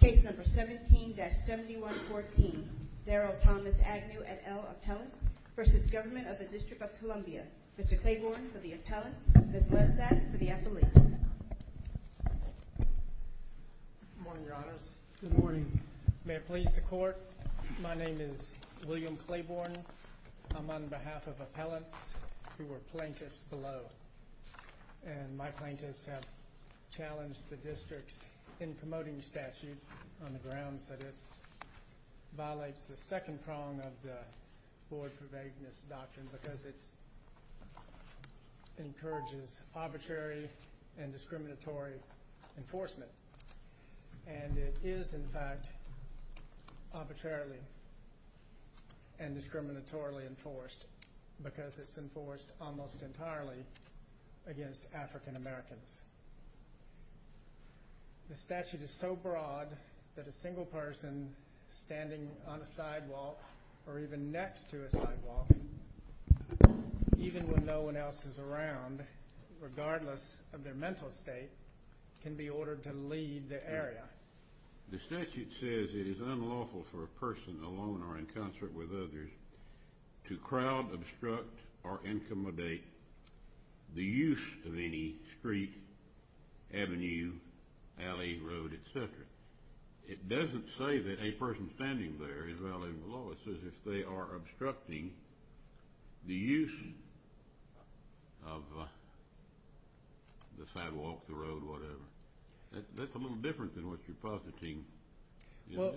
Case number 17-7114, Daryl Thomas Agnew et al. Appellants v. Government of the District of Columbia. Mr. Claiborne for the appellants, Ms. Lezak for the affiliate. Good morning, Your Honors. Good morning. May it please the Court, my name is William Claiborne. I'm on behalf of appellants who were plaintiffs below. And my plaintiffs have challenged the district's in-promoting statute on the grounds that it violates the second prong of the Board for Vagueness Doctrine because it encourages arbitrary and discriminatory enforcement. And it is, in fact, arbitrarily and discriminatorily enforced because it's enforced almost entirely against African Americans. The statute is so broad that a single person standing on a sidewalk or even next to a sidewalk, even when no one else is around, regardless of their mental state, can be ordered to leave the area. The statute says it is unlawful for a person alone or in concert with others to crowd, obstruct, or incommodate the use of any street, avenue, alley, road, etc. It doesn't say that a person standing there is violating the law. It says if they are obstructing the use of the sidewalk, the road, whatever. That's a little different than what you're positing. Well,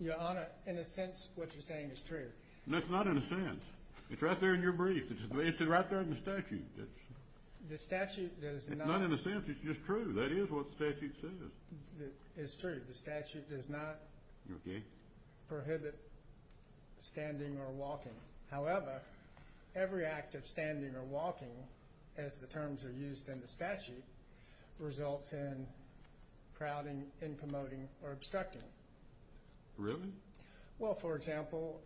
Your Honor, in a sense, what you're saying is true. That's not in a sense. It's right there in your brief. It's right there in the statute. The statute does not... It's not in a sense. It's just true. That is what the statute says. It's true. The statute does not prohibit standing or walking. However, every act of standing or walking, as the terms are used in the statute, results in crowding, incommodating, or obstructing. Really? Well, for example...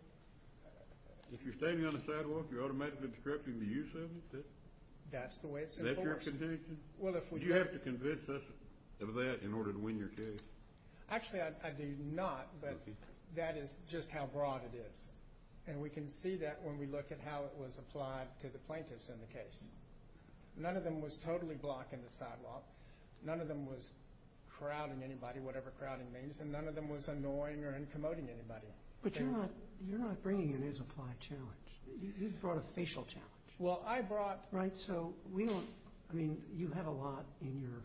If you're standing on a sidewalk, you're automatically obstructing the use of it? That's the way it's enforced. Is that your opinion? Do you have to convince us of that in order to win your case? Actually, I do not, but that is just how broad it is. And we can see that when we look at how it was applied to the plaintiffs in the case. None of them was totally blocking the sidewalk. None of them was crowding anybody, whatever crowding means. And none of them was annoying or incommodating anybody. But you're not bringing in his applied challenge. You brought a facial challenge. Well, I brought... I mean, you have a lot in your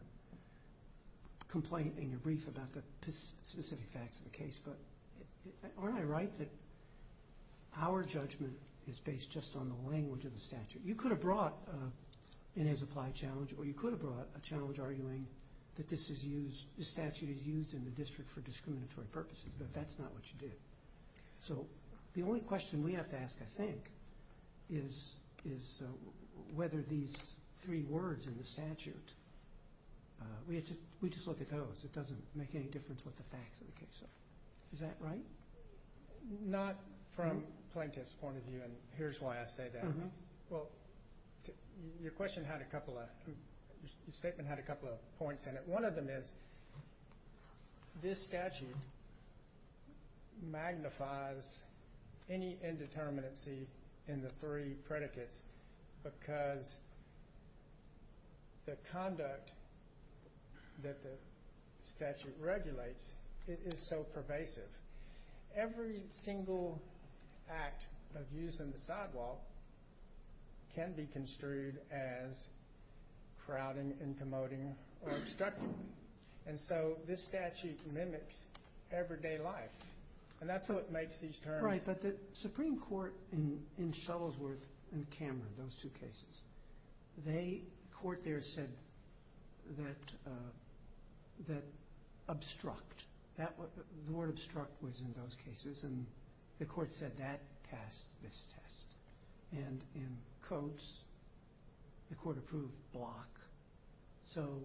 complaint, in your brief, about the specific facts of the case, but aren't I right that our judgment is based just on the language of the statute? You could have brought in his applied challenge, or you could have brought a challenge arguing that this statute is used in the district for discriminatory purposes, but that's not what you did. So the only question we have to ask, I think, is whether these three words in the statute, we just look at those. It doesn't make any difference what the facts of the case are. Is that right? Not from plaintiff's point of view, and here's why I say that. Well, your statement had a couple of points in it. One of them is this statute magnifies any indeterminacy in the three predicates because the conduct that the statute regulates is so pervasive. Every single act of use in the sidewalk can be construed as crowding and promoting or obstructing, and so this statute mimics everyday life, and that's what makes these terms... and the court said that passed this test, and in Coates, the court approved block. So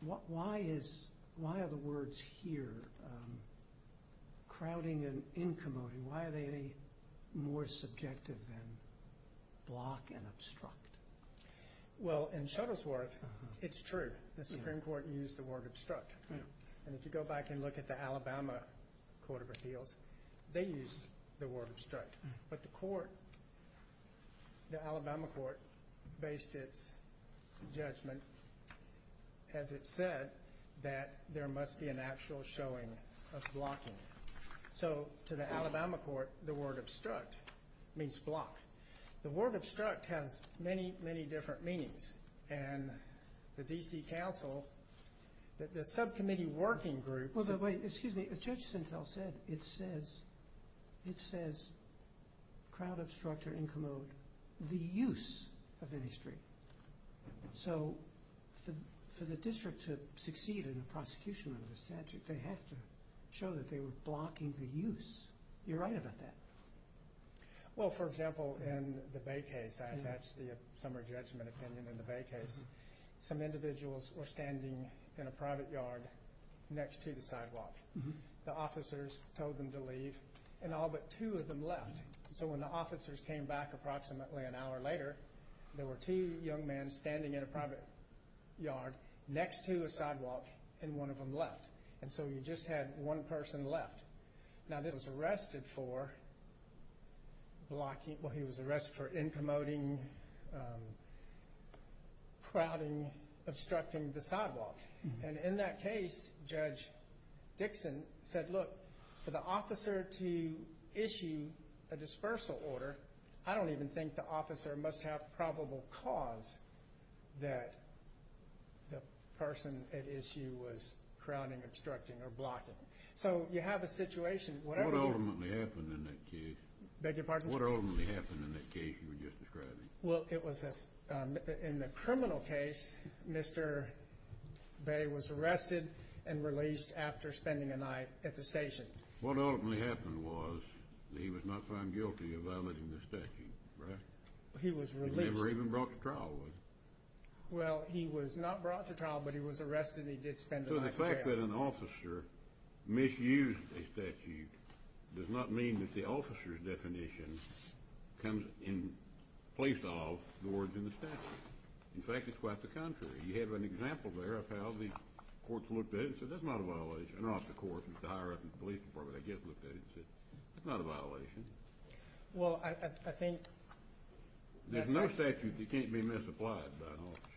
why are the words here, crowding and incommoding, why are they more subjective than block and obstruct? Well, in Shuttlesworth, it's true. The Supreme Court used the word obstruct, and if you go back and look at the Alabama Court of Appeals, they used the word obstruct, but the Alabama court based its judgment, as it said, that there must be an actual showing of blocking. So to the Alabama court, the word obstruct means block. The word obstruct has many, many different meanings, and the D.C. Council, the subcommittee working group... Wait, excuse me. As Judge Sintel said, it says crowd, obstruct, or incommode the use of any street. So for the district to succeed in the prosecution of this statute, they have to show that they were blocking the use. You're right about that. Well, for example, in the Bay case, I attached the summary judgment opinion in the Bay case. Some individuals were standing in a private yard next to the sidewalk. The officers told them to leave, and all but two of them left. So when the officers came back approximately an hour later, there were two young men standing in a private yard next to a sidewalk, and one of them left. And so you just had one person left. Now, this was arrested for blocking. Well, he was arrested for incommoding, crowding, obstructing the sidewalk. And in that case, Judge Dixon said, look, for the officer to issue a dispersal order, I don't even think the officer must have probable cause that the person at issue was crowding, obstructing, or blocking. So you have a situation. What ultimately happened in that case? Beg your pardon? What ultimately happened in that case you were just describing? Well, in the criminal case, Mr. Bay was arrested and released after spending a night at the station. What ultimately happened was that he was not found guilty of violating the statute, right? He was released. He was never even brought to trial, was he? Well, he was not brought to trial, but he was arrested, and he did spend a night in jail. So the fact that an officer misused a statute does not mean that the officer's definition comes in place of the words in the statute. In fact, it's quite the contrary. You have an example there of how the courts looked at it and said, that's not a violation. I don't know if the courts, the higher up in the police department, I guess, looked at it and said, that's not a violation. Well, I think... There's no statute that can't be misapplied by an officer.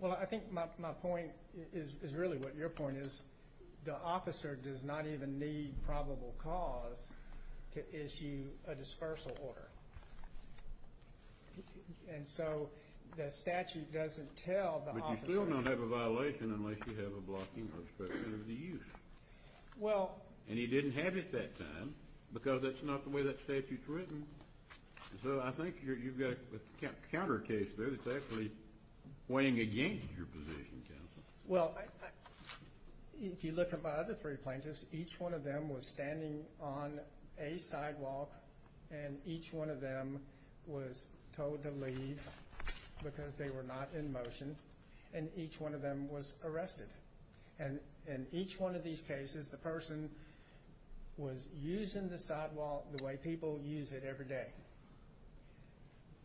Well, I think my point is really what your point is. The officer does not even need probable cause to issue a dispersal order. And so the statute doesn't tell the officer... But you still don't have a violation unless you have a blocking prescription of the use. Well... And he didn't have it that time because that's not the way that statute's written. So I think you've got a counter case there that's actually weighing against your position, counsel. Well, if you look at my other three plaintiffs, each one of them was standing on a sidewalk, and each one of them was told to leave because they were not in motion, and each one of them was arrested. And in each one of these cases, the person was using the sidewalk the way people use it every day.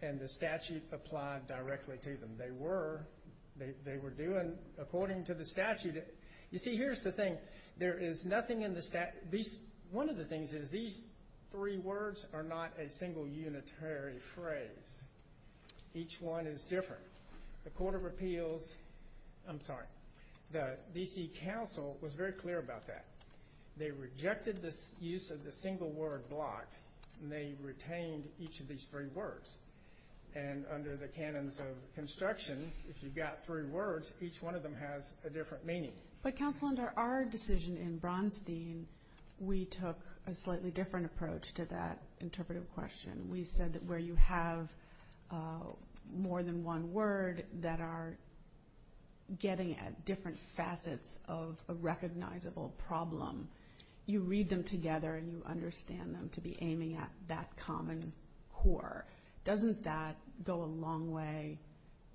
And the statute applied directly to them. They were doing according to the statute. You see, here's the thing. There is nothing in the statute... One of the things is these three words are not a single unitary phrase. Each one is different. The Court of Appeals... I'm sorry. The D.C. Council was very clear about that. They rejected the use of the single word block, and they retained each of these three words. And under the canons of construction, if you've got three words, each one of them has a different meaning. But, counsel, under our decision in Bronstein, we took a slightly different approach to that interpretive question. We said that where you have more than one word that are getting at different facets of a recognizable problem, you read them together and you understand them to be aiming at that common core. Doesn't that go a long way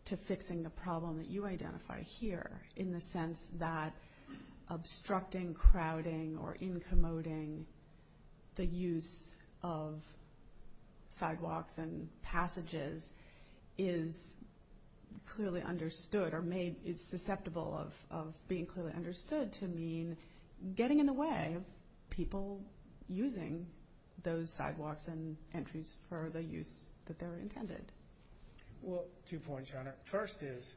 to fixing the problem that you identify here, in the sense that obstructing, crowding, or incommoding the use of sidewalks and passages is clearly understood or is susceptible of being clearly understood to mean getting in the way of people using those sidewalks and entries for the use that they're intended? First is,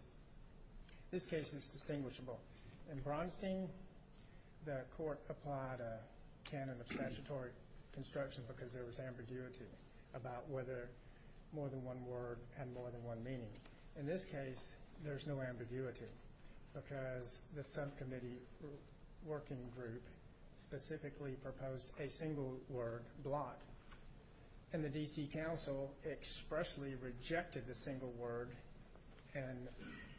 this case is distinguishable. In Bronstein, the court applied a canon of statutory construction because there was ambiguity about whether more than one word had more than one meaning. In this case, there's no ambiguity because the subcommittee working group specifically proposed a single word block. And the D.C. Council expressly rejected the single word in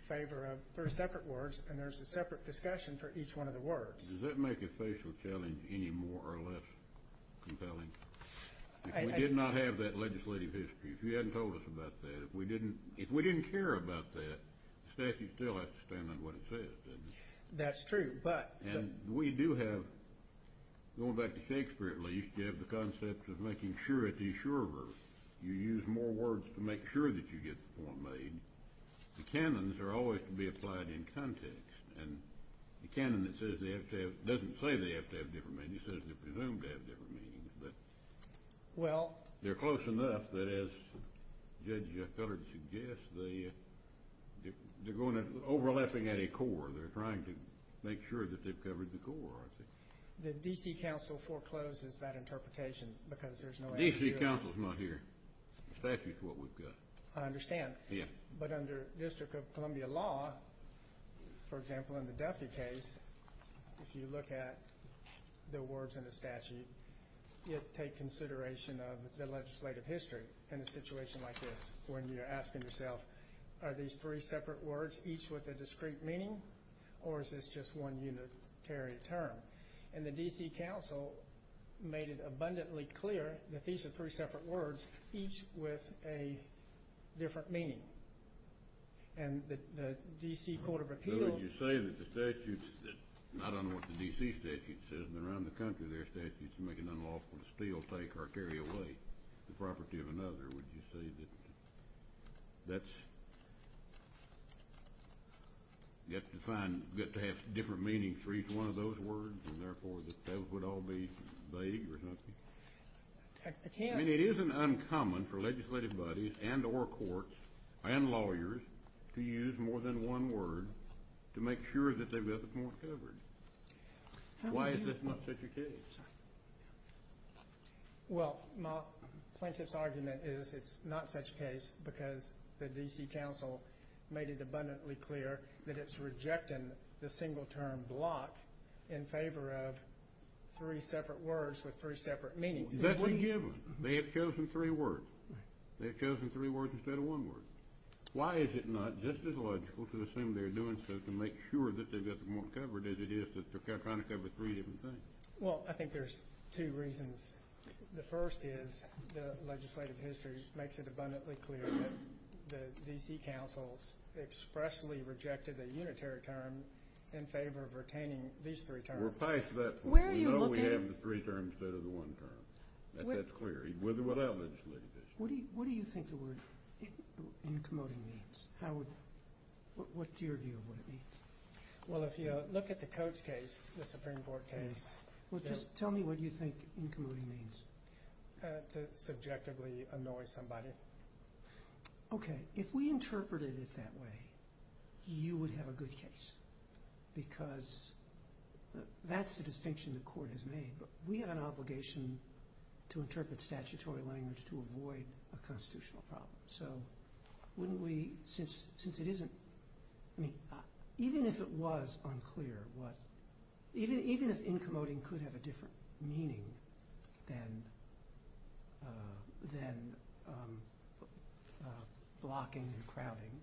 favor of, there are separate words, and there's a separate discussion for each one of the words. Does that make it facial challenge any more or less compelling? If we did not have that legislative history, if you hadn't told us about that, if we didn't care about that, the statute still has to stand on what it says, doesn't it? That's true, but. And we do have, going back to Shakespeare at least, you have the concept of making sure, at the sure verse, you use more words to make sure that you get the point made. The canons are always to be applied in context. And the canon that says they have to have, doesn't say they have to have different meanings. It says they're presumed to have different meanings. But they're close enough that, as Judge Fillard suggests, they're overlapping at a core. They're trying to make sure that they've covered the core, I think. The D.C. Council forecloses that interpretation because there's no ambiguity. The D.C. Council's not here. The statute's what we've got. I understand. Yeah. But under District of Columbia law, for example, in the Duffy case, if you look at the words in the statute, it takes consideration of the legislative history. In a situation like this, when you're asking yourself, are these three separate words, each with a discrete meaning, or is this just one unitary term? And the D.C. Council made it abundantly clear that these are three separate words, each with a different meaning. And the D.C. Court of Appeals So would you say that the statutes, I don't know what the D.C. statute says, but around the country, there are statutes that make it unlawful to steal, take, or carry away the property of another. Or would you say that that's defined to have different meanings for each one of those words, and therefore that those would all be vague or something? I can't I mean, it isn't uncommon for legislative bodies and or courts and lawyers to use more than one word to make sure that they've got the point covered. Why is this not such a case? Well, my plaintiff's argument is it's not such a case because the D.C. Council made it abundantly clear that it's rejecting the single term block in favor of three separate words with three separate meanings. Exactly given. They have chosen three words. They have chosen three words instead of one word. Why is it not just as logical to assume they're doing so to make sure that they've got the point covered as it is that they're trying to cover three different things? Well, I think there's two reasons. The first is the legislative history makes it abundantly clear that the D.C. Councils expressly rejected the unitary term in favor of retaining these three terms. We're biased to that point. We know we have the three terms instead of the one term. That's clear. With or without legislative issues. What do you think the word in commoting means? What's your view of what it means? Well, if you look at the Coates case, the Supreme Court case. Well, just tell me what you think in commoting means. To subjectively annoy somebody. Okay. If we interpreted it that way, you would have a good case because that's the distinction the court has made. We have an obligation to interpret statutory language to avoid a constitutional problem. So wouldn't we, since it isn't, I mean, even if it was unclear what, even if in commoting could have a different meaning than blocking and crowding,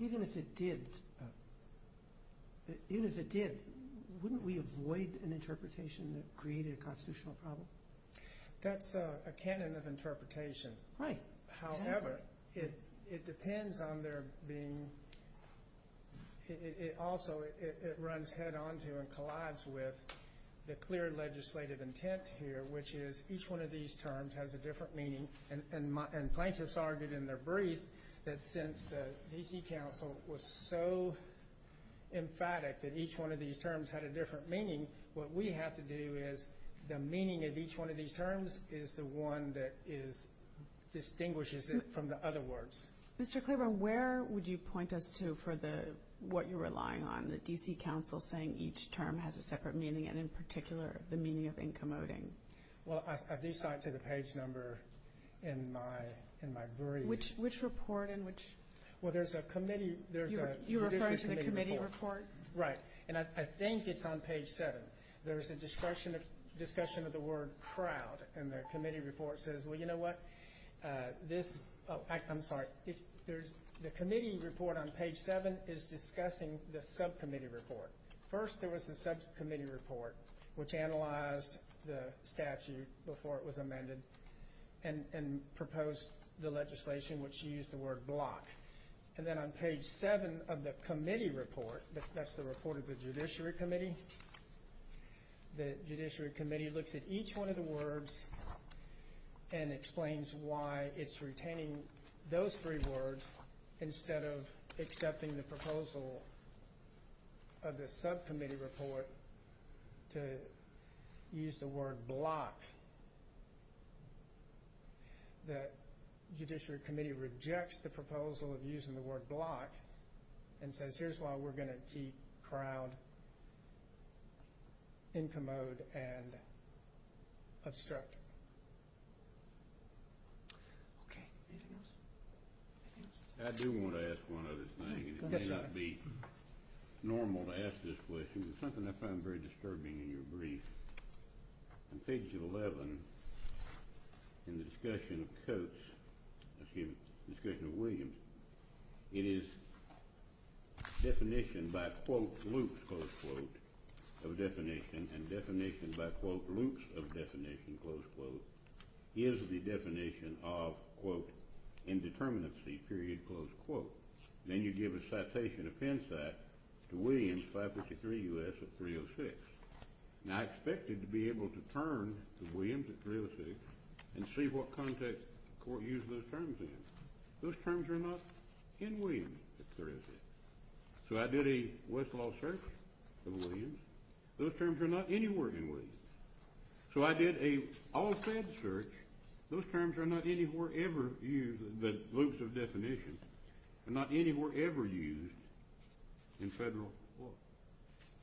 even if it did, wouldn't we avoid an interpretation that created a constitutional problem? That's a canon of interpretation. Right. However, it depends on there being, it also, it runs head on to and collides with the clear legislative intent here, which is each one of these terms has a different meaning. And plaintiffs argued in their brief that since the D.C. Council was so emphatic that each one of these terms had a different meaning, what we have to do is the meaning of each one of these terms is the one that distinguishes it from the other words. Mr. Klaber, where would you point us to for what you're relying on, the D.C. Council saying each term has a separate meaning, and in particular, the meaning of in commoting? Well, I do cite to the page number in my brief. Which report and which? Well, there's a committee. You're referring to the committee report? Right. And I think it's on page seven. There's a discussion of the word crowd, and the committee report says, well, you know what? This, oh, I'm sorry. The committee report on page seven is discussing the subcommittee report. First, there was a subcommittee report which analyzed the statute before it was amended and proposed the legislation which used the word block. And then on page seven of the committee report, that's the report of the Judiciary Committee, the Judiciary Committee looks at each one of the words and explains why it's retaining those three words instead of accepting the proposal of the subcommittee report to use the word block. The Judiciary Committee rejects the proposal of using the word block and says here's why we're going to keep crowd in commode and obstruct. Okay. I do want to ask one other thing, and it may not be normal to ask this question, but it's something I found very disturbing in your brief. On page 11 in the discussion of Coates, excuse me, the discussion of Williams, it is definition by, quote, loops, close quote, of definition, and definition by, quote, loops of definition, close quote, is the definition of, quote, indeterminacy, period, close quote. Then you give a citation of hindsight to Williams 553 U.S. 306. Now, I expected to be able to turn to Williams at 306 and see what context the court used those terms in. Those terms are not in Williams at 306. So I did a Westlaw search of Williams. Those terms are not anywhere in Williams. So I did an all-fed search. Those terms are not anywhere ever used, the loops of definition, are not anywhere ever used in federal court.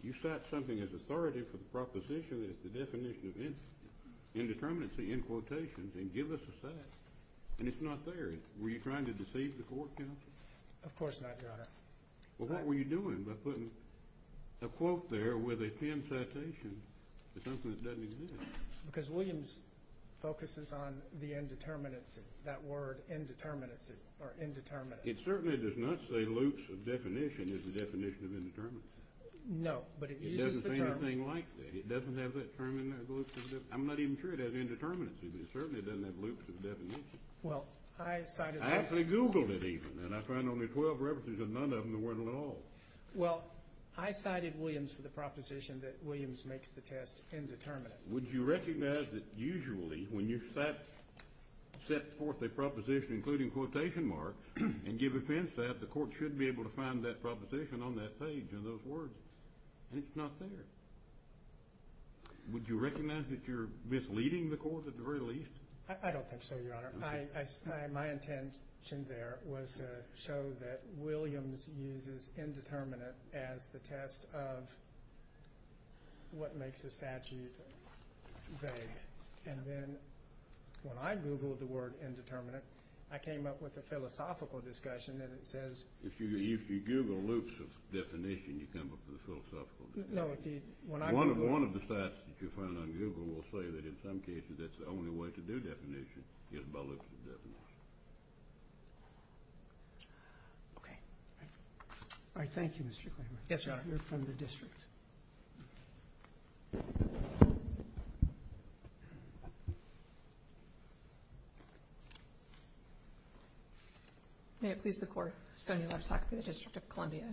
You cite something as authority for the proposition that it's the definition of indeterminacy in quotations, and give us a cite, and it's not there. Were you trying to deceive the court, counsel? Of course not, Your Honor. Well, what were you doing by putting a quote there with a pinned citation to something that doesn't exist? Because Williams focuses on the indeterminacy, that word indeterminacy or indeterminacy. It certainly does not say loops of definition as the definition of indeterminacy. No, but it uses the term. It doesn't say anything like that. It doesn't have that term in there, the loop of the definition. I'm not even sure it has indeterminacy, but it certainly doesn't have loops of definition. Well, I cited that. I actually Googled it even, and I found only 12 references and none of them were the law. Well, I cited Williams for the proposition that Williams makes the test indeterminate. Would you recognize that usually when you cite, set forth a proposition including quotation marks and give offense to that, the court should be able to find that proposition on that page of those words, and it's not there. Would you recognize that you're misleading the court at the very least? I don't think so, Your Honor. My intention there was to show that Williams uses indeterminate as the test of what makes a statute vague, and then when I Googled the word indeterminate, I came up with a philosophical discussion, and it says If you Google loops of definition, you come up with a philosophical discussion. No. One of the stats that you find on Google will say that in some cases that's the only way to do definition, is by loops of definition. Okay. All right. Thank you, Mr. Kramer. Yes, Your Honor. You're from the district. May it please the Court. Sonia Lovesack for the District of Columbia.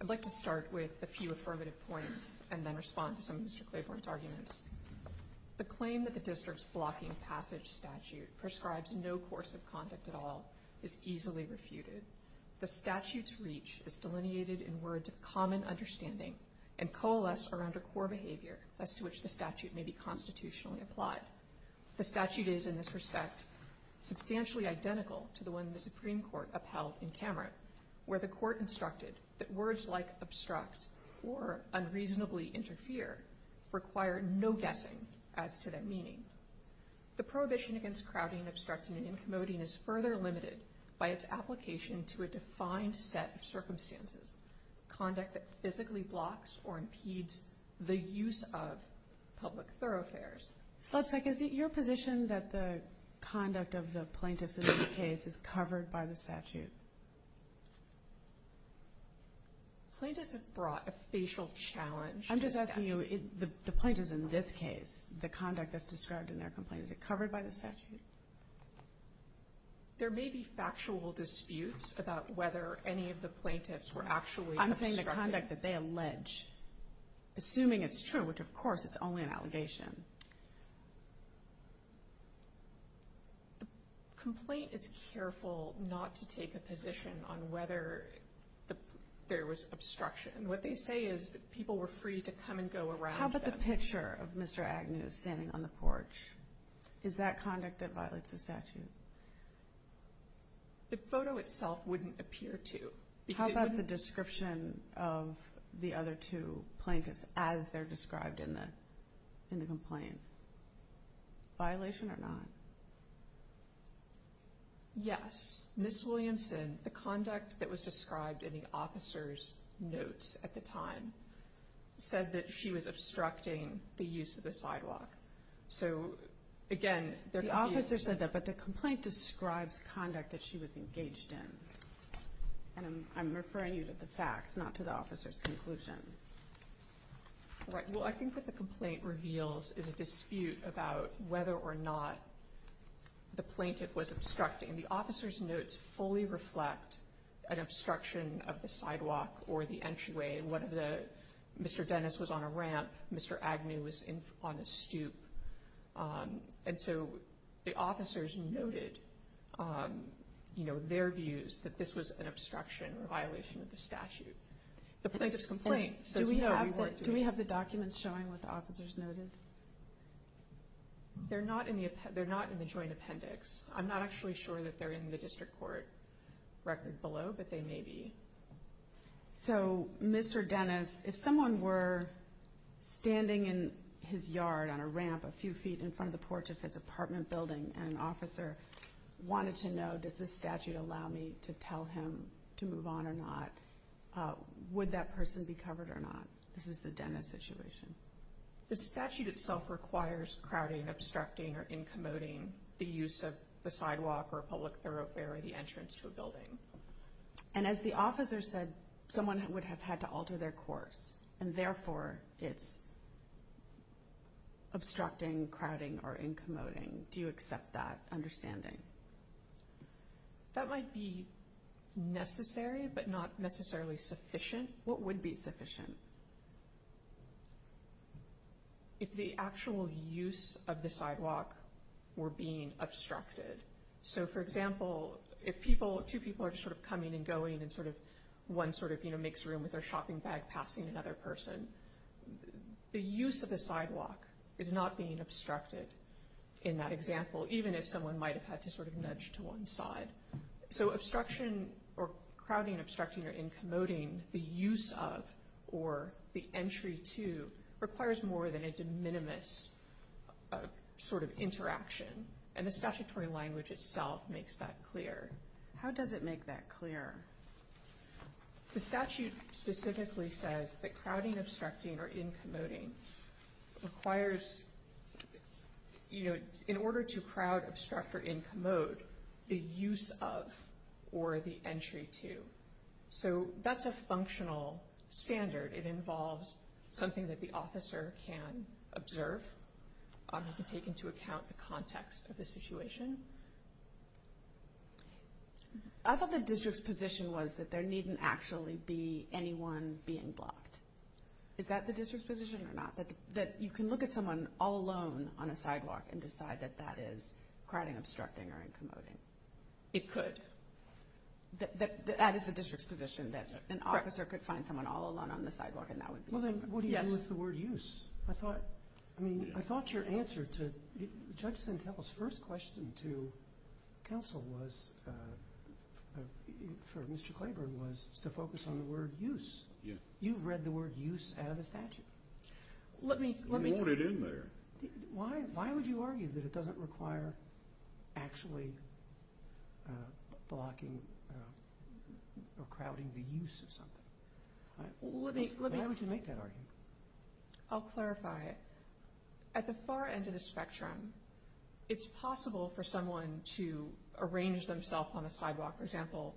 I'd like to start with a few affirmative points and then respond to some of Mr. Claiborne's arguments. The claim that the district's blocking passage statute prescribes no course of conduct at all is easily refuted. The statute's reach is delineated in words of common understanding and coalesced around a core behavior as to which the statute may be constitutionally applied. The statute is, in this respect, substantially identical to the one the Supreme Court upheld in Cameron, where the Court instructed that words like obstruct or unreasonably interfere require no guessing as to their meaning. The prohibition against crowding, obstructing, and incommoding is further limited by its application to a defined set of circumstances, conduct that physically blocks or impedes the use of public thoroughfares. Lovesack, is it your position that the conduct of the plaintiffs in this case is covered by the statute? Plaintiffs have brought a facial challenge to the statute. I'm just asking you, the plaintiffs in this case, the conduct that's described in their complaint, is it covered by the statute? There may be factual disputes about whether any of the plaintiffs were actually obstructing. I'm saying the conduct that they allege, assuming it's true, which, of course, it's only an allegation. The complaint is careful not to take a position on whether there was obstruction. What they say is that people were free to come and go around them. How about the picture of Mr. Agnew standing on the porch? Is that conduct that violates the statute? The photo itself wouldn't appear to. How about the description of the other two plaintiffs as they're described in the complaint? Violation or not? Yes, Ms. Williamson, the conduct that was described in the officer's notes at the time, said that she was obstructing the use of the sidewalk. The officer said that, but the complaint describes conduct that she was engaged in. I'm referring you to the facts, not to the officer's conclusion. I think what the complaint reveals is a dispute about whether or not the plaintiff was obstructing. The officer's notes fully reflect an obstruction of the sidewalk or the entryway. Mr. Dennis was on a ramp. Mr. Agnew was on a stoop. The officers noted their views that this was an obstruction or violation of the statute. The plaintiff's complaint says no. Do we have the documents showing what the officers noted? They're not in the joint appendix. I'm not actually sure that they're in the district court record below, but they may be. So, Mr. Dennis, if someone were standing in his yard on a ramp a few feet in front of the porch of his apartment building and an officer wanted to know, does this statute allow me to tell him to move on or not, would that person be covered or not? This is the Dennis situation. The statute itself requires crowding, obstructing, or incommoding the use of the sidewalk and as the officer said, someone would have had to alter their course and therefore it's obstructing, crowding, or incommoding. Do you accept that understanding? That might be necessary but not necessarily sufficient. What would be sufficient? If the actual use of the sidewalk were being obstructed. So, for example, if two people are just sort of coming and going and one sort of makes room with their shopping bag passing another person, the use of the sidewalk is not being obstructed in that example, even if someone might have had to sort of nudge to one side. So obstruction or crowding, obstructing, or incommoding the use of or the entry to requires more than a de minimis sort of interaction and the statutory language itself makes that clear. How does it make that clear? The statute specifically says that crowding, obstructing, or incommoding requires, you know, in order to crowd, obstruct, or incommode the use of or the entry to. So that's a functional standard. It involves something that the officer can observe. You can take into account the context of the situation. I thought the district's position was that there needn't actually be anyone being blocked. Is that the district's position or not? That you can look at someone all alone on a sidewalk and decide that that is crowding, obstructing, or incommoding? It could. That is the district's position that an officer could find someone all alone on the sidewalk and that would be fine. Well, then, what do you do with the word use? I thought your answer to Judge Sentel's first question to counsel was, for Mr. Claiborne, was to focus on the word use. You've read the word use out of the statute. You want it in there. Why would you argue that it doesn't require actually blocking or crowding the use of something? Why would you make that argument? I'll clarify. At the far end of the spectrum, it's possible for someone to arrange themselves on the sidewalk. For example,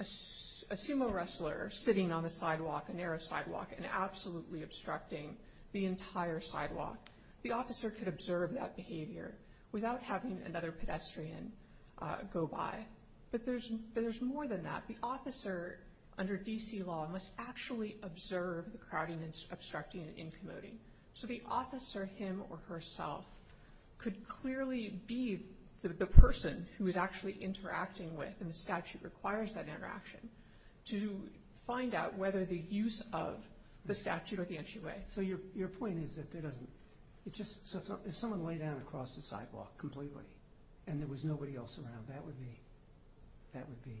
a sumo wrestler sitting on the sidewalk, a narrow sidewalk, and absolutely obstructing the entire sidewalk. The officer could observe that behavior without having another pedestrian go by. But there's more than that. The officer, under D.C. law, must actually observe the crowding, obstructing, and incommoding. So the officer, him or herself, could clearly be the person who is actually interacting with, and the statute requires that interaction, to find out whether the use of the statute or the entryway. So your point is that there doesn't… If someone lay down across the sidewalk completely and there was nobody else around, that would be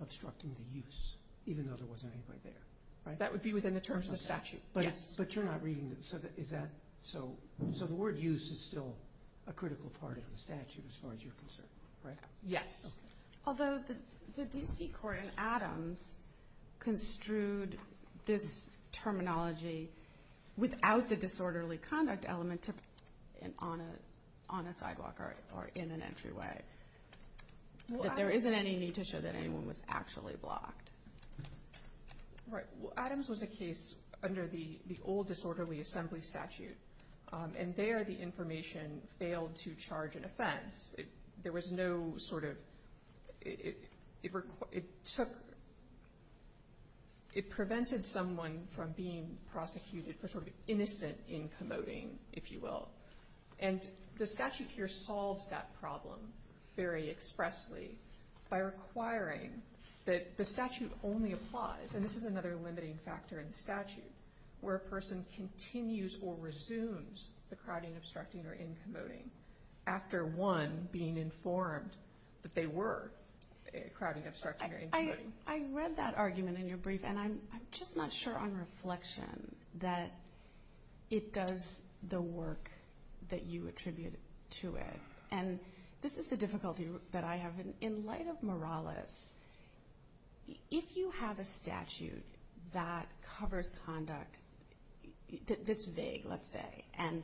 obstructing the use, even though there wasn't anybody there, right? That would be within the terms of the statute, yes. But you're not reading… So the word use is still a critical part of the statute as far as you're concerned, right? Yes. Although the D.C. court in Adams construed this terminology without the disorderly conduct element on a sidewalk or in an entryway, that there isn't any need to show that anyone was actually blocked. Right. Adams was a case under the old disorderly assembly statute, there was no sort of… It took… It prevented someone from being prosecuted for sort of innocent incommoding, if you will. And the statute here solves that problem very expressly by requiring that the statute only applies, and this is another limiting factor in the statute, where a person continues or resumes the crowding, obstructing, or incommoding after one being informed that they were crowding, obstructing, or incommoding. I read that argument in your brief, and I'm just not sure on reflection that it does the work that you attribute to it. And this is the difficulty that I have. In light of Morales, if you have a statute that covers conduct that's vague, let's say, and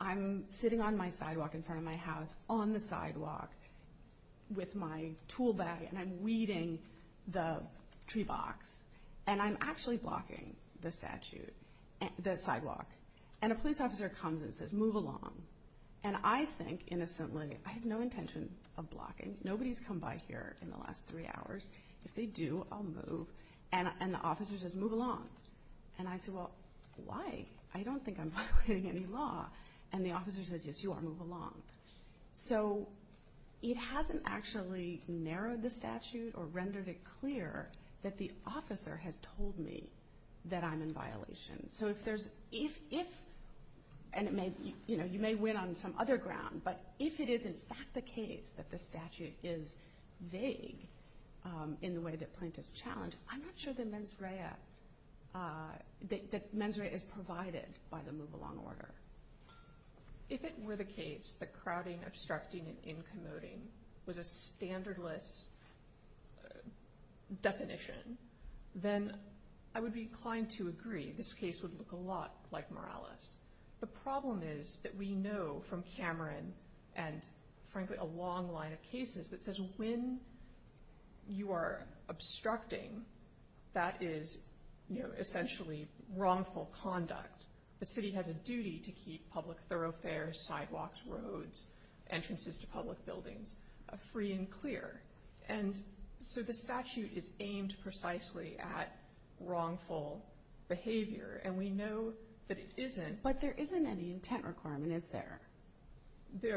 I'm sitting on my sidewalk in front of my house, on the sidewalk, with my tool bag, and I'm weeding the tree box, and I'm actually blocking the statute, the sidewalk, and a police officer comes and says, move along. And I think innocently, I have no intention of blocking. Nobody's come by here in the last three hours. If they do, I'll move. And the officer says, move along. And I say, well, why? I don't think I'm violating any law. And the officer says, yes, you are. Move along. So it hasn't actually narrowed the statute or rendered it clear that the officer has told me that I'm in violation. So if there's – and you may win on some other ground, but if it is in fact the case that the statute is vague in the way that plaintiffs challenge, I'm not sure that mens rea is provided by the move along order. If it were the case that crowding, obstructing, and incommoding was a standardless definition, then I would be inclined to agree. This case would look a lot like Morales. The problem is that we know from Cameron and, frankly, a long line of cases that says when you are obstructing, that is essentially wrongful conduct. The city has a duty to keep public thoroughfares, sidewalks, roads, entrances to public buildings free and clear. And so the statute is aimed precisely at wrongful behavior, and we know that it isn't. But there isn't any intent requirement, is there?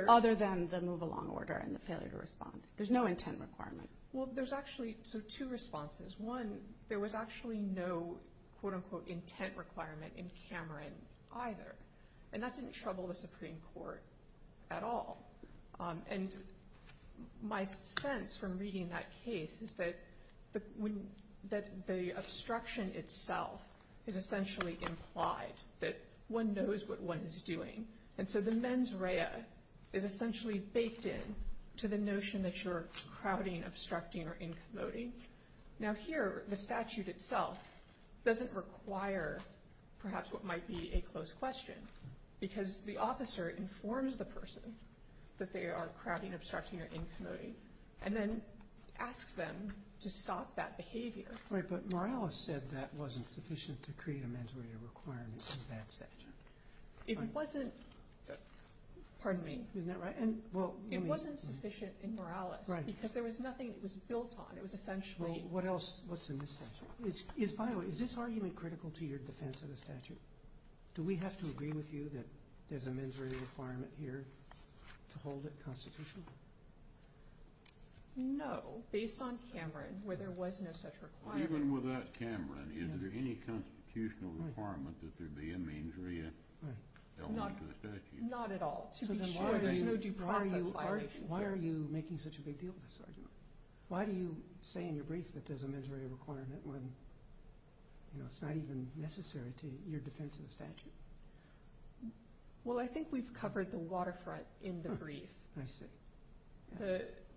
Other than the move along order and the failure to respond. There's no intent requirement. Well, there's actually two responses. One, there was actually no, quote-unquote, intent requirement in Cameron either, and that didn't trouble the Supreme Court at all. And my sense from reading that case is that the obstruction itself is essentially implied, that one knows what one is doing. And so the mens rea is essentially baked in to the notion that you're crowding, obstructing, or incommoding. Now here, the statute itself doesn't require perhaps what might be a close question because the officer informs the person that they are crowding, obstructing, or incommoding and then asks them to stop that behavior. Right, but Morales said that wasn't sufficient to create a mens rea requirement in that statute. It wasn't, pardon me. Isn't that right? It wasn't sufficient in Morales because there was nothing that was built on. It was essentially Well, what else? What's in this statute? By the way, is this argument critical to your defense of the statute? Do we have to agree with you that there's a mens rea requirement here to hold it constitutional? No, based on Cameron where there was no such requirement. Even without Cameron, is there any constitutional requirement that there be a mens rea held on to the statute? Not at all. Why are you making such a big deal of this argument? Why do you say in your brief that there's a mens rea requirement when it's not even necessary to your defense of the statute? Well, I think we've covered the waterfront in the brief. I see.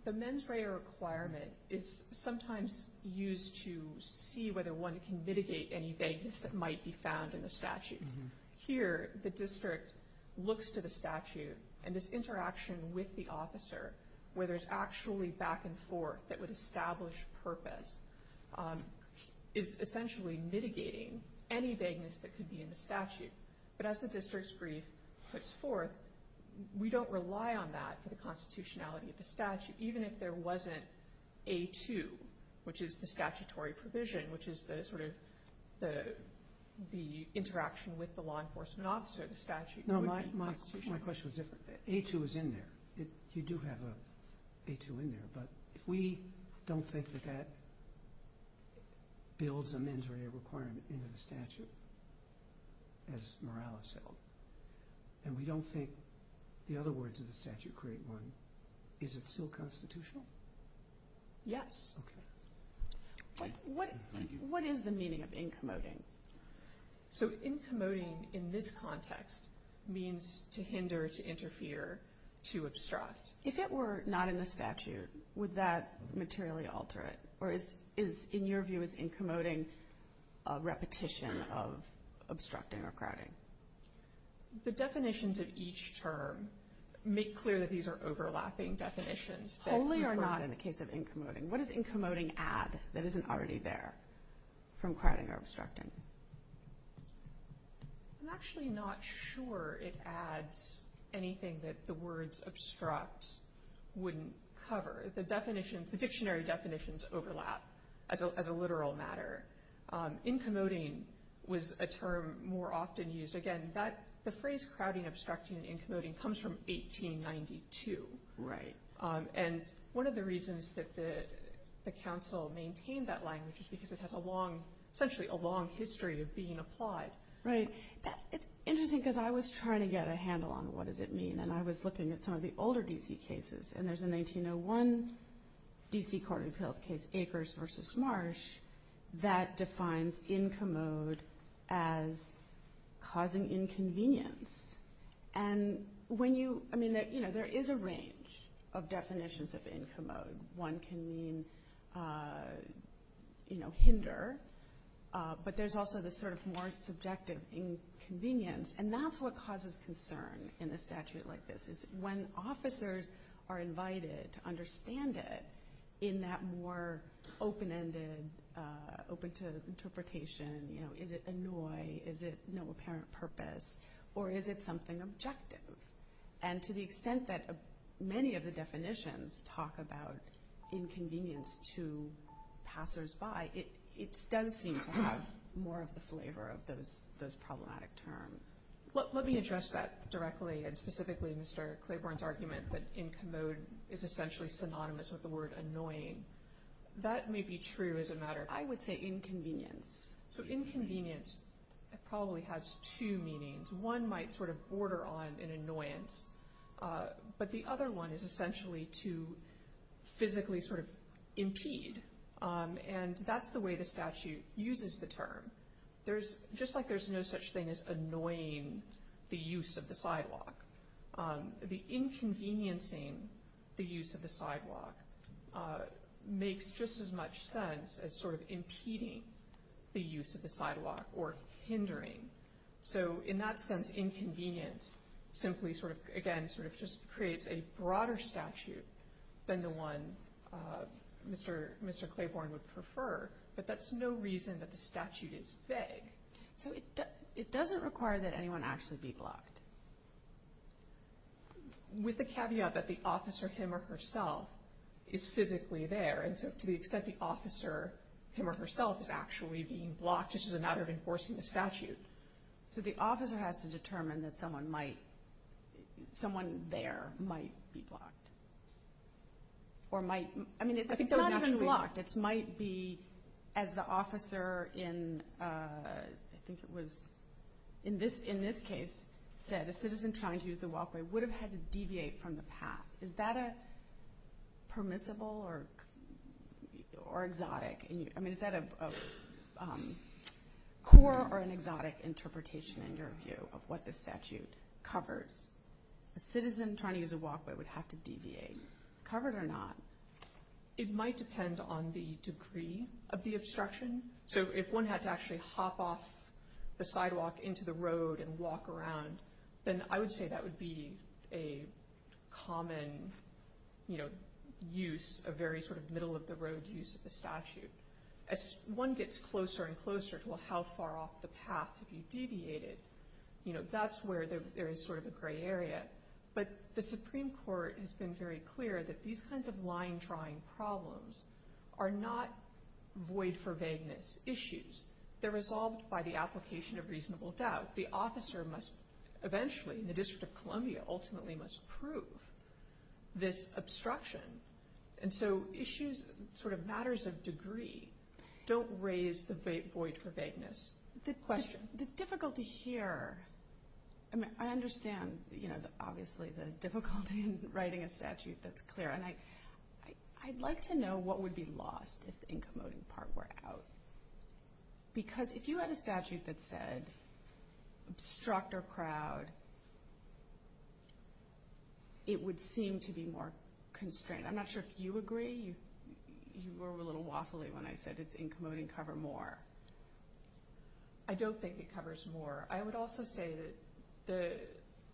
The mens rea requirement is sometimes used to see whether one can mitigate any vagueness that might be found in the statute. Here, the district looks to the statute, and this interaction with the officer, where there's actually back and forth that would establish purpose, is essentially mitigating any vagueness that could be in the statute. But as the district's brief puts forth, we don't rely on that for the constitutionality of the statute, even if there wasn't A2, which is the statutory provision, which is the interaction with the law enforcement officer of the statute. No, my question was different. A2 is in there. You do have A2 in there. But if we don't think that that builds a mens rea requirement into the statute, as Morales said, and we don't think the other words of the statute create one, is it still constitutional? Yes. Okay. Thank you. What is the meaning of incommoding? So incommoding in this context means to hinder, to interfere, to obstruct. If it were not in the statute, would that materially alter it? Or is, in your view, is incommoding a repetition of obstructing or crowding? The definitions of each term make clear that these are overlapping definitions. Wholly or not in the case of incommoding? What does incommoding add that isn't already there from crowding or obstructing? I'm actually not sure it adds anything that the words obstruct wouldn't cover. The dictionary definitions overlap as a literal matter. Incommoding was a term more often used. Again, the phrase crowding, obstructing, and incommoding comes from 1892. Right. And one of the reasons that the council maintained that language is because it has essentially a long history of being applied. Right. It's interesting because I was trying to get a handle on what does it mean, and I was looking at some of the older D.C. cases, and there's a 1901 D.C. court appeals case, Akers v. Marsh, that defines incommode as causing inconvenience. There is a range of definitions of incommode. One can mean hinder, but there's also the sort of more subjective inconvenience, and that's what causes concern in a statute like this is when officers are invited to understand it in that more open-ended, open to interpretation. Is it annoy? Is it no apparent purpose? Or is it something objective? And to the extent that many of the definitions talk about inconvenience to passers-by, it does seem to have more of the flavor of those problematic terms. Let me address that directly, and specifically Mr. Claiborne's argument that incommode is essentially synonymous with the word annoying. That may be true as a matter of— I would say inconvenience. So inconvenience probably has two meanings. One might sort of border on an annoyance, but the other one is essentially to physically sort of impede, and that's the way the statute uses the term. Just like there's no such thing as annoying the use of the sidewalk, the inconveniencing the use of the sidewalk makes just as much sense as sort of impeding the use of the sidewalk or hindering. So in that sense, inconvenience simply sort of, again, sort of just creates a broader statute than the one Mr. Claiborne would prefer, but that's no reason that the statute is vague. So it doesn't require that anyone actually be blocked? With the caveat that the officer, him or herself, is physically there, and so to the extent the officer, him or herself, is actually being blocked, it's just a matter of enforcing the statute. So the officer has to determine that someone might— someone there might be blocked, or might— I mean, it's not even blocked. It might be, as the officer in—I think it was in this case said, a citizen trying to use the walkway would have had to deviate from the path. Is that permissible or exotic? I mean, is that a core or an exotic interpretation, in your view, of what the statute covers? A citizen trying to use a walkway would have to deviate. Covered or not? It might depend on the degree of the obstruction. So if one had to actually hop off the sidewalk into the road and walk around, then I would say that would be a common use, a very sort of middle-of-the-road use of the statute. As one gets closer and closer to how far off the path to be deviated, that's where there is sort of a gray area. But the Supreme Court has been very clear that these kinds of line-drawing problems are not void-for-vagueness issues. They're resolved by the application of reasonable doubt. The officer must eventually, in the District of Columbia, ultimately must prove this obstruction. And so issues, sort of matters of degree, don't raise the void-for-vagueness question. The difficulty here, I mean, I understand, you know, obviously the difficulty in writing a statute that's clear, and I'd like to know what would be lost if the incommoding part were out. Because if you had a statute that said obstruct or crowd, it would seem to be more constrained. I'm not sure if you agree. You were a little waffly when I said it's incommoding, cover more. I don't think it covers more. I would also say that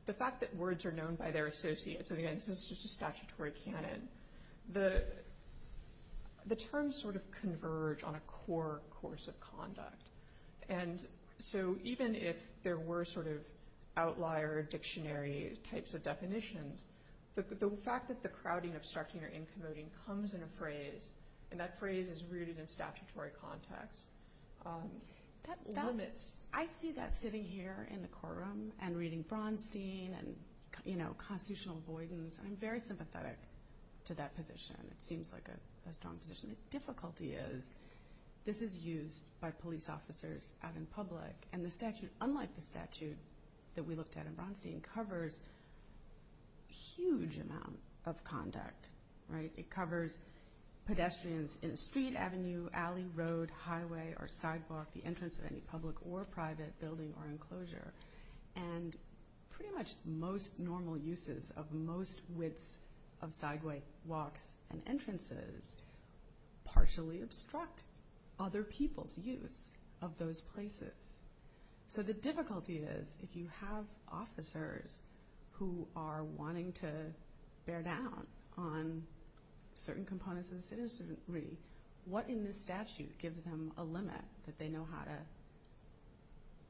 the fact that words are known by their associates, and again, this is just a statutory canon, the terms sort of converge on a core course of conduct. And so even if there were sort of outlier dictionary types of definitions, the fact that the crowding, obstructing, or incommoding comes in a phrase, and that phrase is rooted in statutory context, limits. I see that sitting here in the courtroom and reading Bronstein and, you know, constitutional avoidance, and I'm very sympathetic to that position. It seems like a strong position. The difficulty is this is used by police officers out in public, and the statute, unlike the statute that we looked at in Bronstein, covers a huge amount of conduct, right? It covers pedestrians in a street, avenue, alley, road, highway, or sidewalk, the entrance of any public or private building or enclosure, and pretty much most normal uses of most widths of sidewalks and entrances partially obstruct other people's use of those places. So the difficulty is if you have officers who are wanting to bear down on certain components of the citizenry, what in this statute gives them a limit that they know how to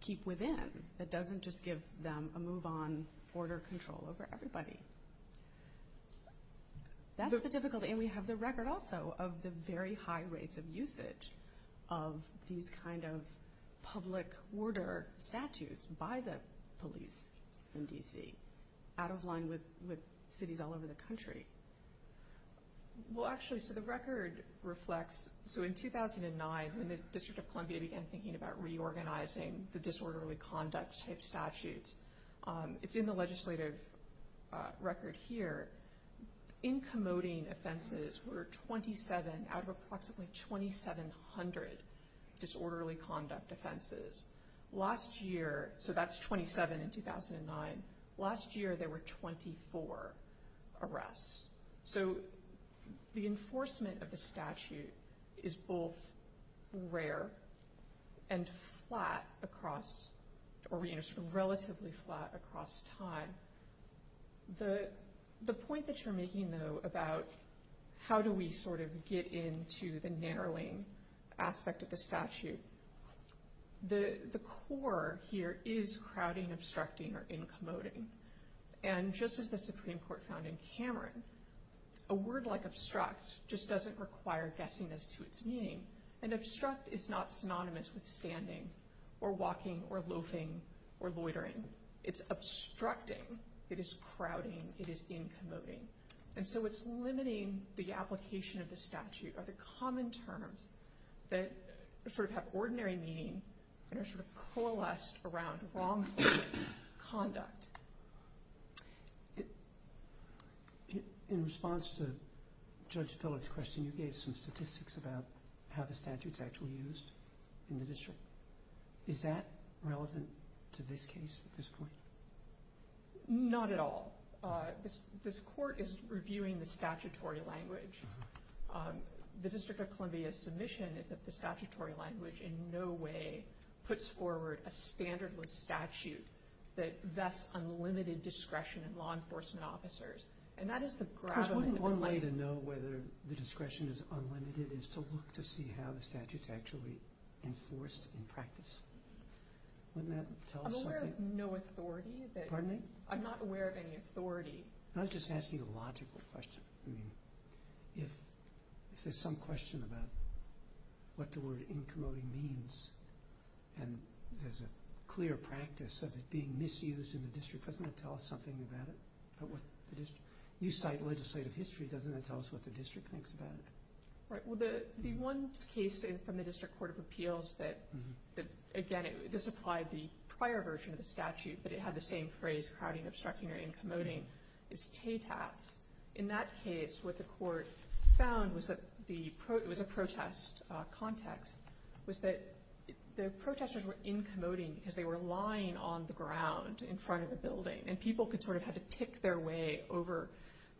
keep within that doesn't just give them a move on border control over everybody? That's the difficulty, and we have the record also of the very high rates of usage of these kind of public border statutes by the police in D.C. out of line with cities all over the country. Well, actually, so the record reflects, so in 2009, when the District of Columbia began thinking about reorganizing the disorderly conduct type statutes, it's in the legislative record here. In commoting offenses were 27 out of approximately 2,700 disorderly conduct offenses. Last year, so that's 27 in 2009. Last year there were 24 arrests. So the enforcement of the statute is both rare and flat across, or relatively flat across time. The point that you're making, though, about how do we sort of get into the narrowing aspect of the statute, the core here is crowding, obstructing, or in commoting. And just as the Supreme Court found in Cameron, a word like obstruct just doesn't require guessing as to its meaning. An obstruct is not synonymous with standing or walking or loafing or loitering. It's obstructing. It is crowding. It is in commoting. And so it's limiting the application of the statute or the common terms that sort of have ordinary meaning and are sort of coalesced around wrongful conduct. In response to Judge Pillard's question, you gave some statistics about how the statute's actually used in the district. Is that relevant to this case at this point? Not at all. This court is reviewing the statutory language. The District of Columbia's submission is that the statutory language in no way puts forward a standardless statute that vests unlimited discretion in law enforcement officers. And that is the gravamen of the claim. Because wouldn't one way to know whether the discretion is unlimited is to look to see how the statute's actually enforced in practice? Wouldn't that tell us something? I'm aware of no authority that you're using. Pardon me? I'm not aware of any authority. I was just asking a logical question. I mean, if there's some question about what the word in commoting means and there's a clear practice of it being misused in the district, doesn't it tell us something about it? You cite legislative history. Doesn't it tell us what the district thinks about it? Right. Well, the one case from the District Court of Appeals that, again, this applied the prior version of the statute, but it had the same phrase, crowding, obstructing, or in commoting, is TATATs. In that case, what the court found was that the protest context was that the protesters were in commoting because they were lying on the ground in front of the building. And people could sort of have to pick their way over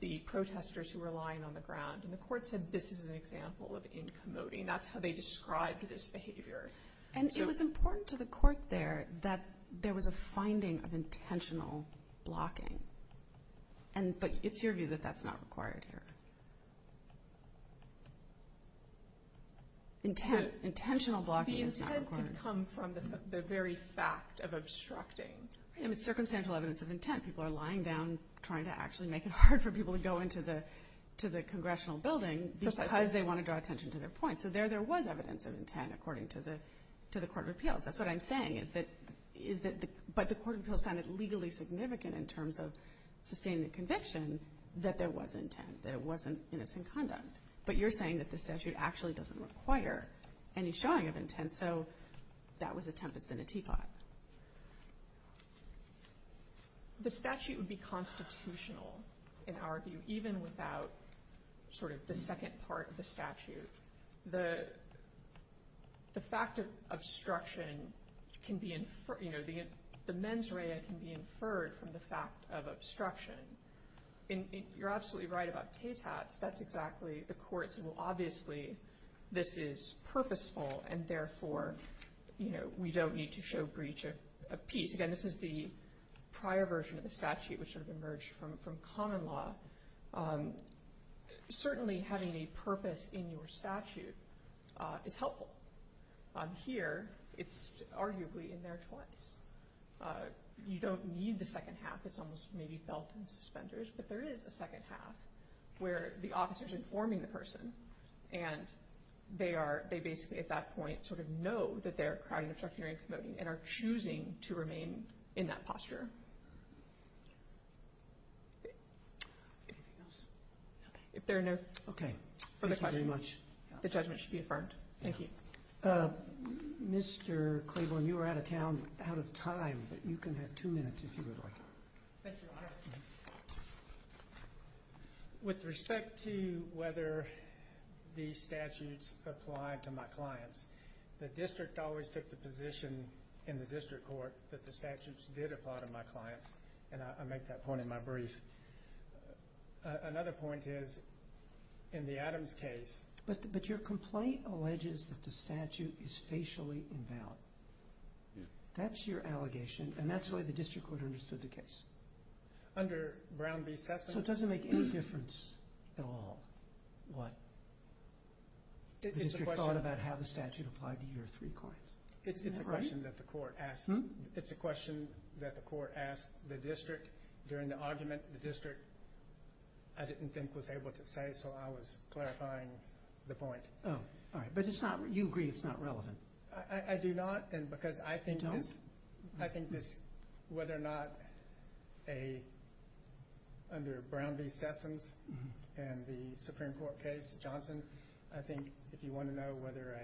the protesters who were lying on the ground. And the court said this is an example of in commoting. That's how they described this behavior. And it was important to the court there that there was a finding of intentional blocking. But it's your view that that's not required here. Intentional blocking is not required. The intent can come from the very fact of obstructing. I mean, circumstantial evidence of intent. People are lying down trying to actually make it hard for people to go into the congressional building because they want to draw attention to their point. So there there was evidence of intent according to the court of appeals. That's what I'm saying. But the court of appeals found it legally significant in terms of sustaining the conviction that there was intent, that it wasn't innocent conduct. But you're saying that this statute actually doesn't require any showing of intent. So that was a tempest in a teapot. The statute would be constitutional, in our view, even without sort of the second part of the statute. The fact of obstruction can be inferred, you know, the mens rea can be inferred from the fact of obstruction. You're absolutely right about TATATs. That's exactly, the courts will obviously, this is purposeful, and therefore, you know, we don't need to show breach of peace. Again, this is the prior version of the statute, which sort of emerged from common law. Certainly having a purpose in your statute is helpful. Here, it's arguably in there twice. You don't need the second half. It's almost maybe felt in suspenders. But there is a second half where the officer is informing the person, and they basically at that point sort of know that they're crowding and are choosing to remain in that posture. If there are no further questions, the judgment should be affirmed. Thank you. Mr. Claiborne, you are out of town, out of time, but you can have two minutes if you would like. Thank you, Your Honor. With respect to whether the statutes apply to my clients, the district always took the position in the district court that the statutes did apply to my clients, and I make that point in my brief. Another point is in the Adams case. But your complaint alleges that the statute is facially invalid. That's your allegation, and that's the way the district court understood the case. Under Brown v. Sessoms. So it doesn't make any difference at all what the district thought about how the statute applied to your three clients. It's a question that the court asked. It's a question that the court asked the district during the argument. The district, I didn't think, was able to say, so I was clarifying the point. Oh, all right. But you agree it's not relevant. I do not, and because I think this, whether or not under Brown v. Sessoms and the Supreme Court case, Johnson, I think if you want to know whether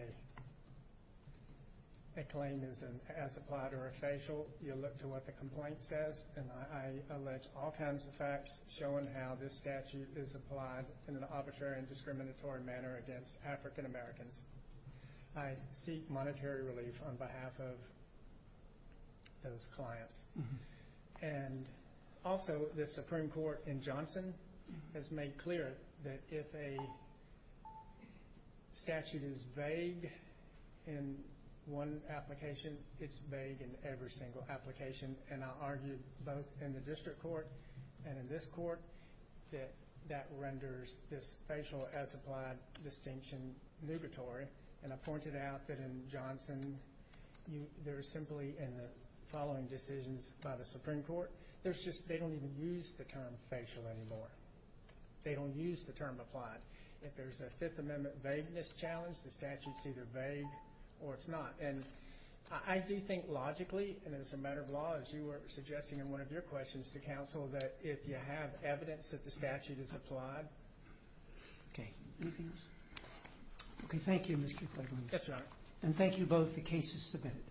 a claim is as applied or a facial, you look to what the complaint says, and I allege all kinds of facts showing how this statute is applied in an arbitrary and discriminatory manner against African Americans. I seek monetary relief on behalf of those clients. And also, the Supreme Court in Johnson has made clear that if a statute is vague in one application, it's vague in every single application, and I argue both in the district court and in this court that that renders this facial as applied distinction nugatory. And I pointed out that in Johnson, there is simply in the following decisions by the Supreme Court, they don't even use the term facial anymore. They don't use the term applied. If there's a Fifth Amendment vagueness challenge, the statute's either vague or it's not. And I do think logically, and as a matter of law, as you were suggesting in one of your questions to counsel, that if you have evidence that the statute is applied. Okay. Anything else? Okay. Thank you, Mr. Flagellini. Yes, Your Honor. And thank you both. The case is submitted.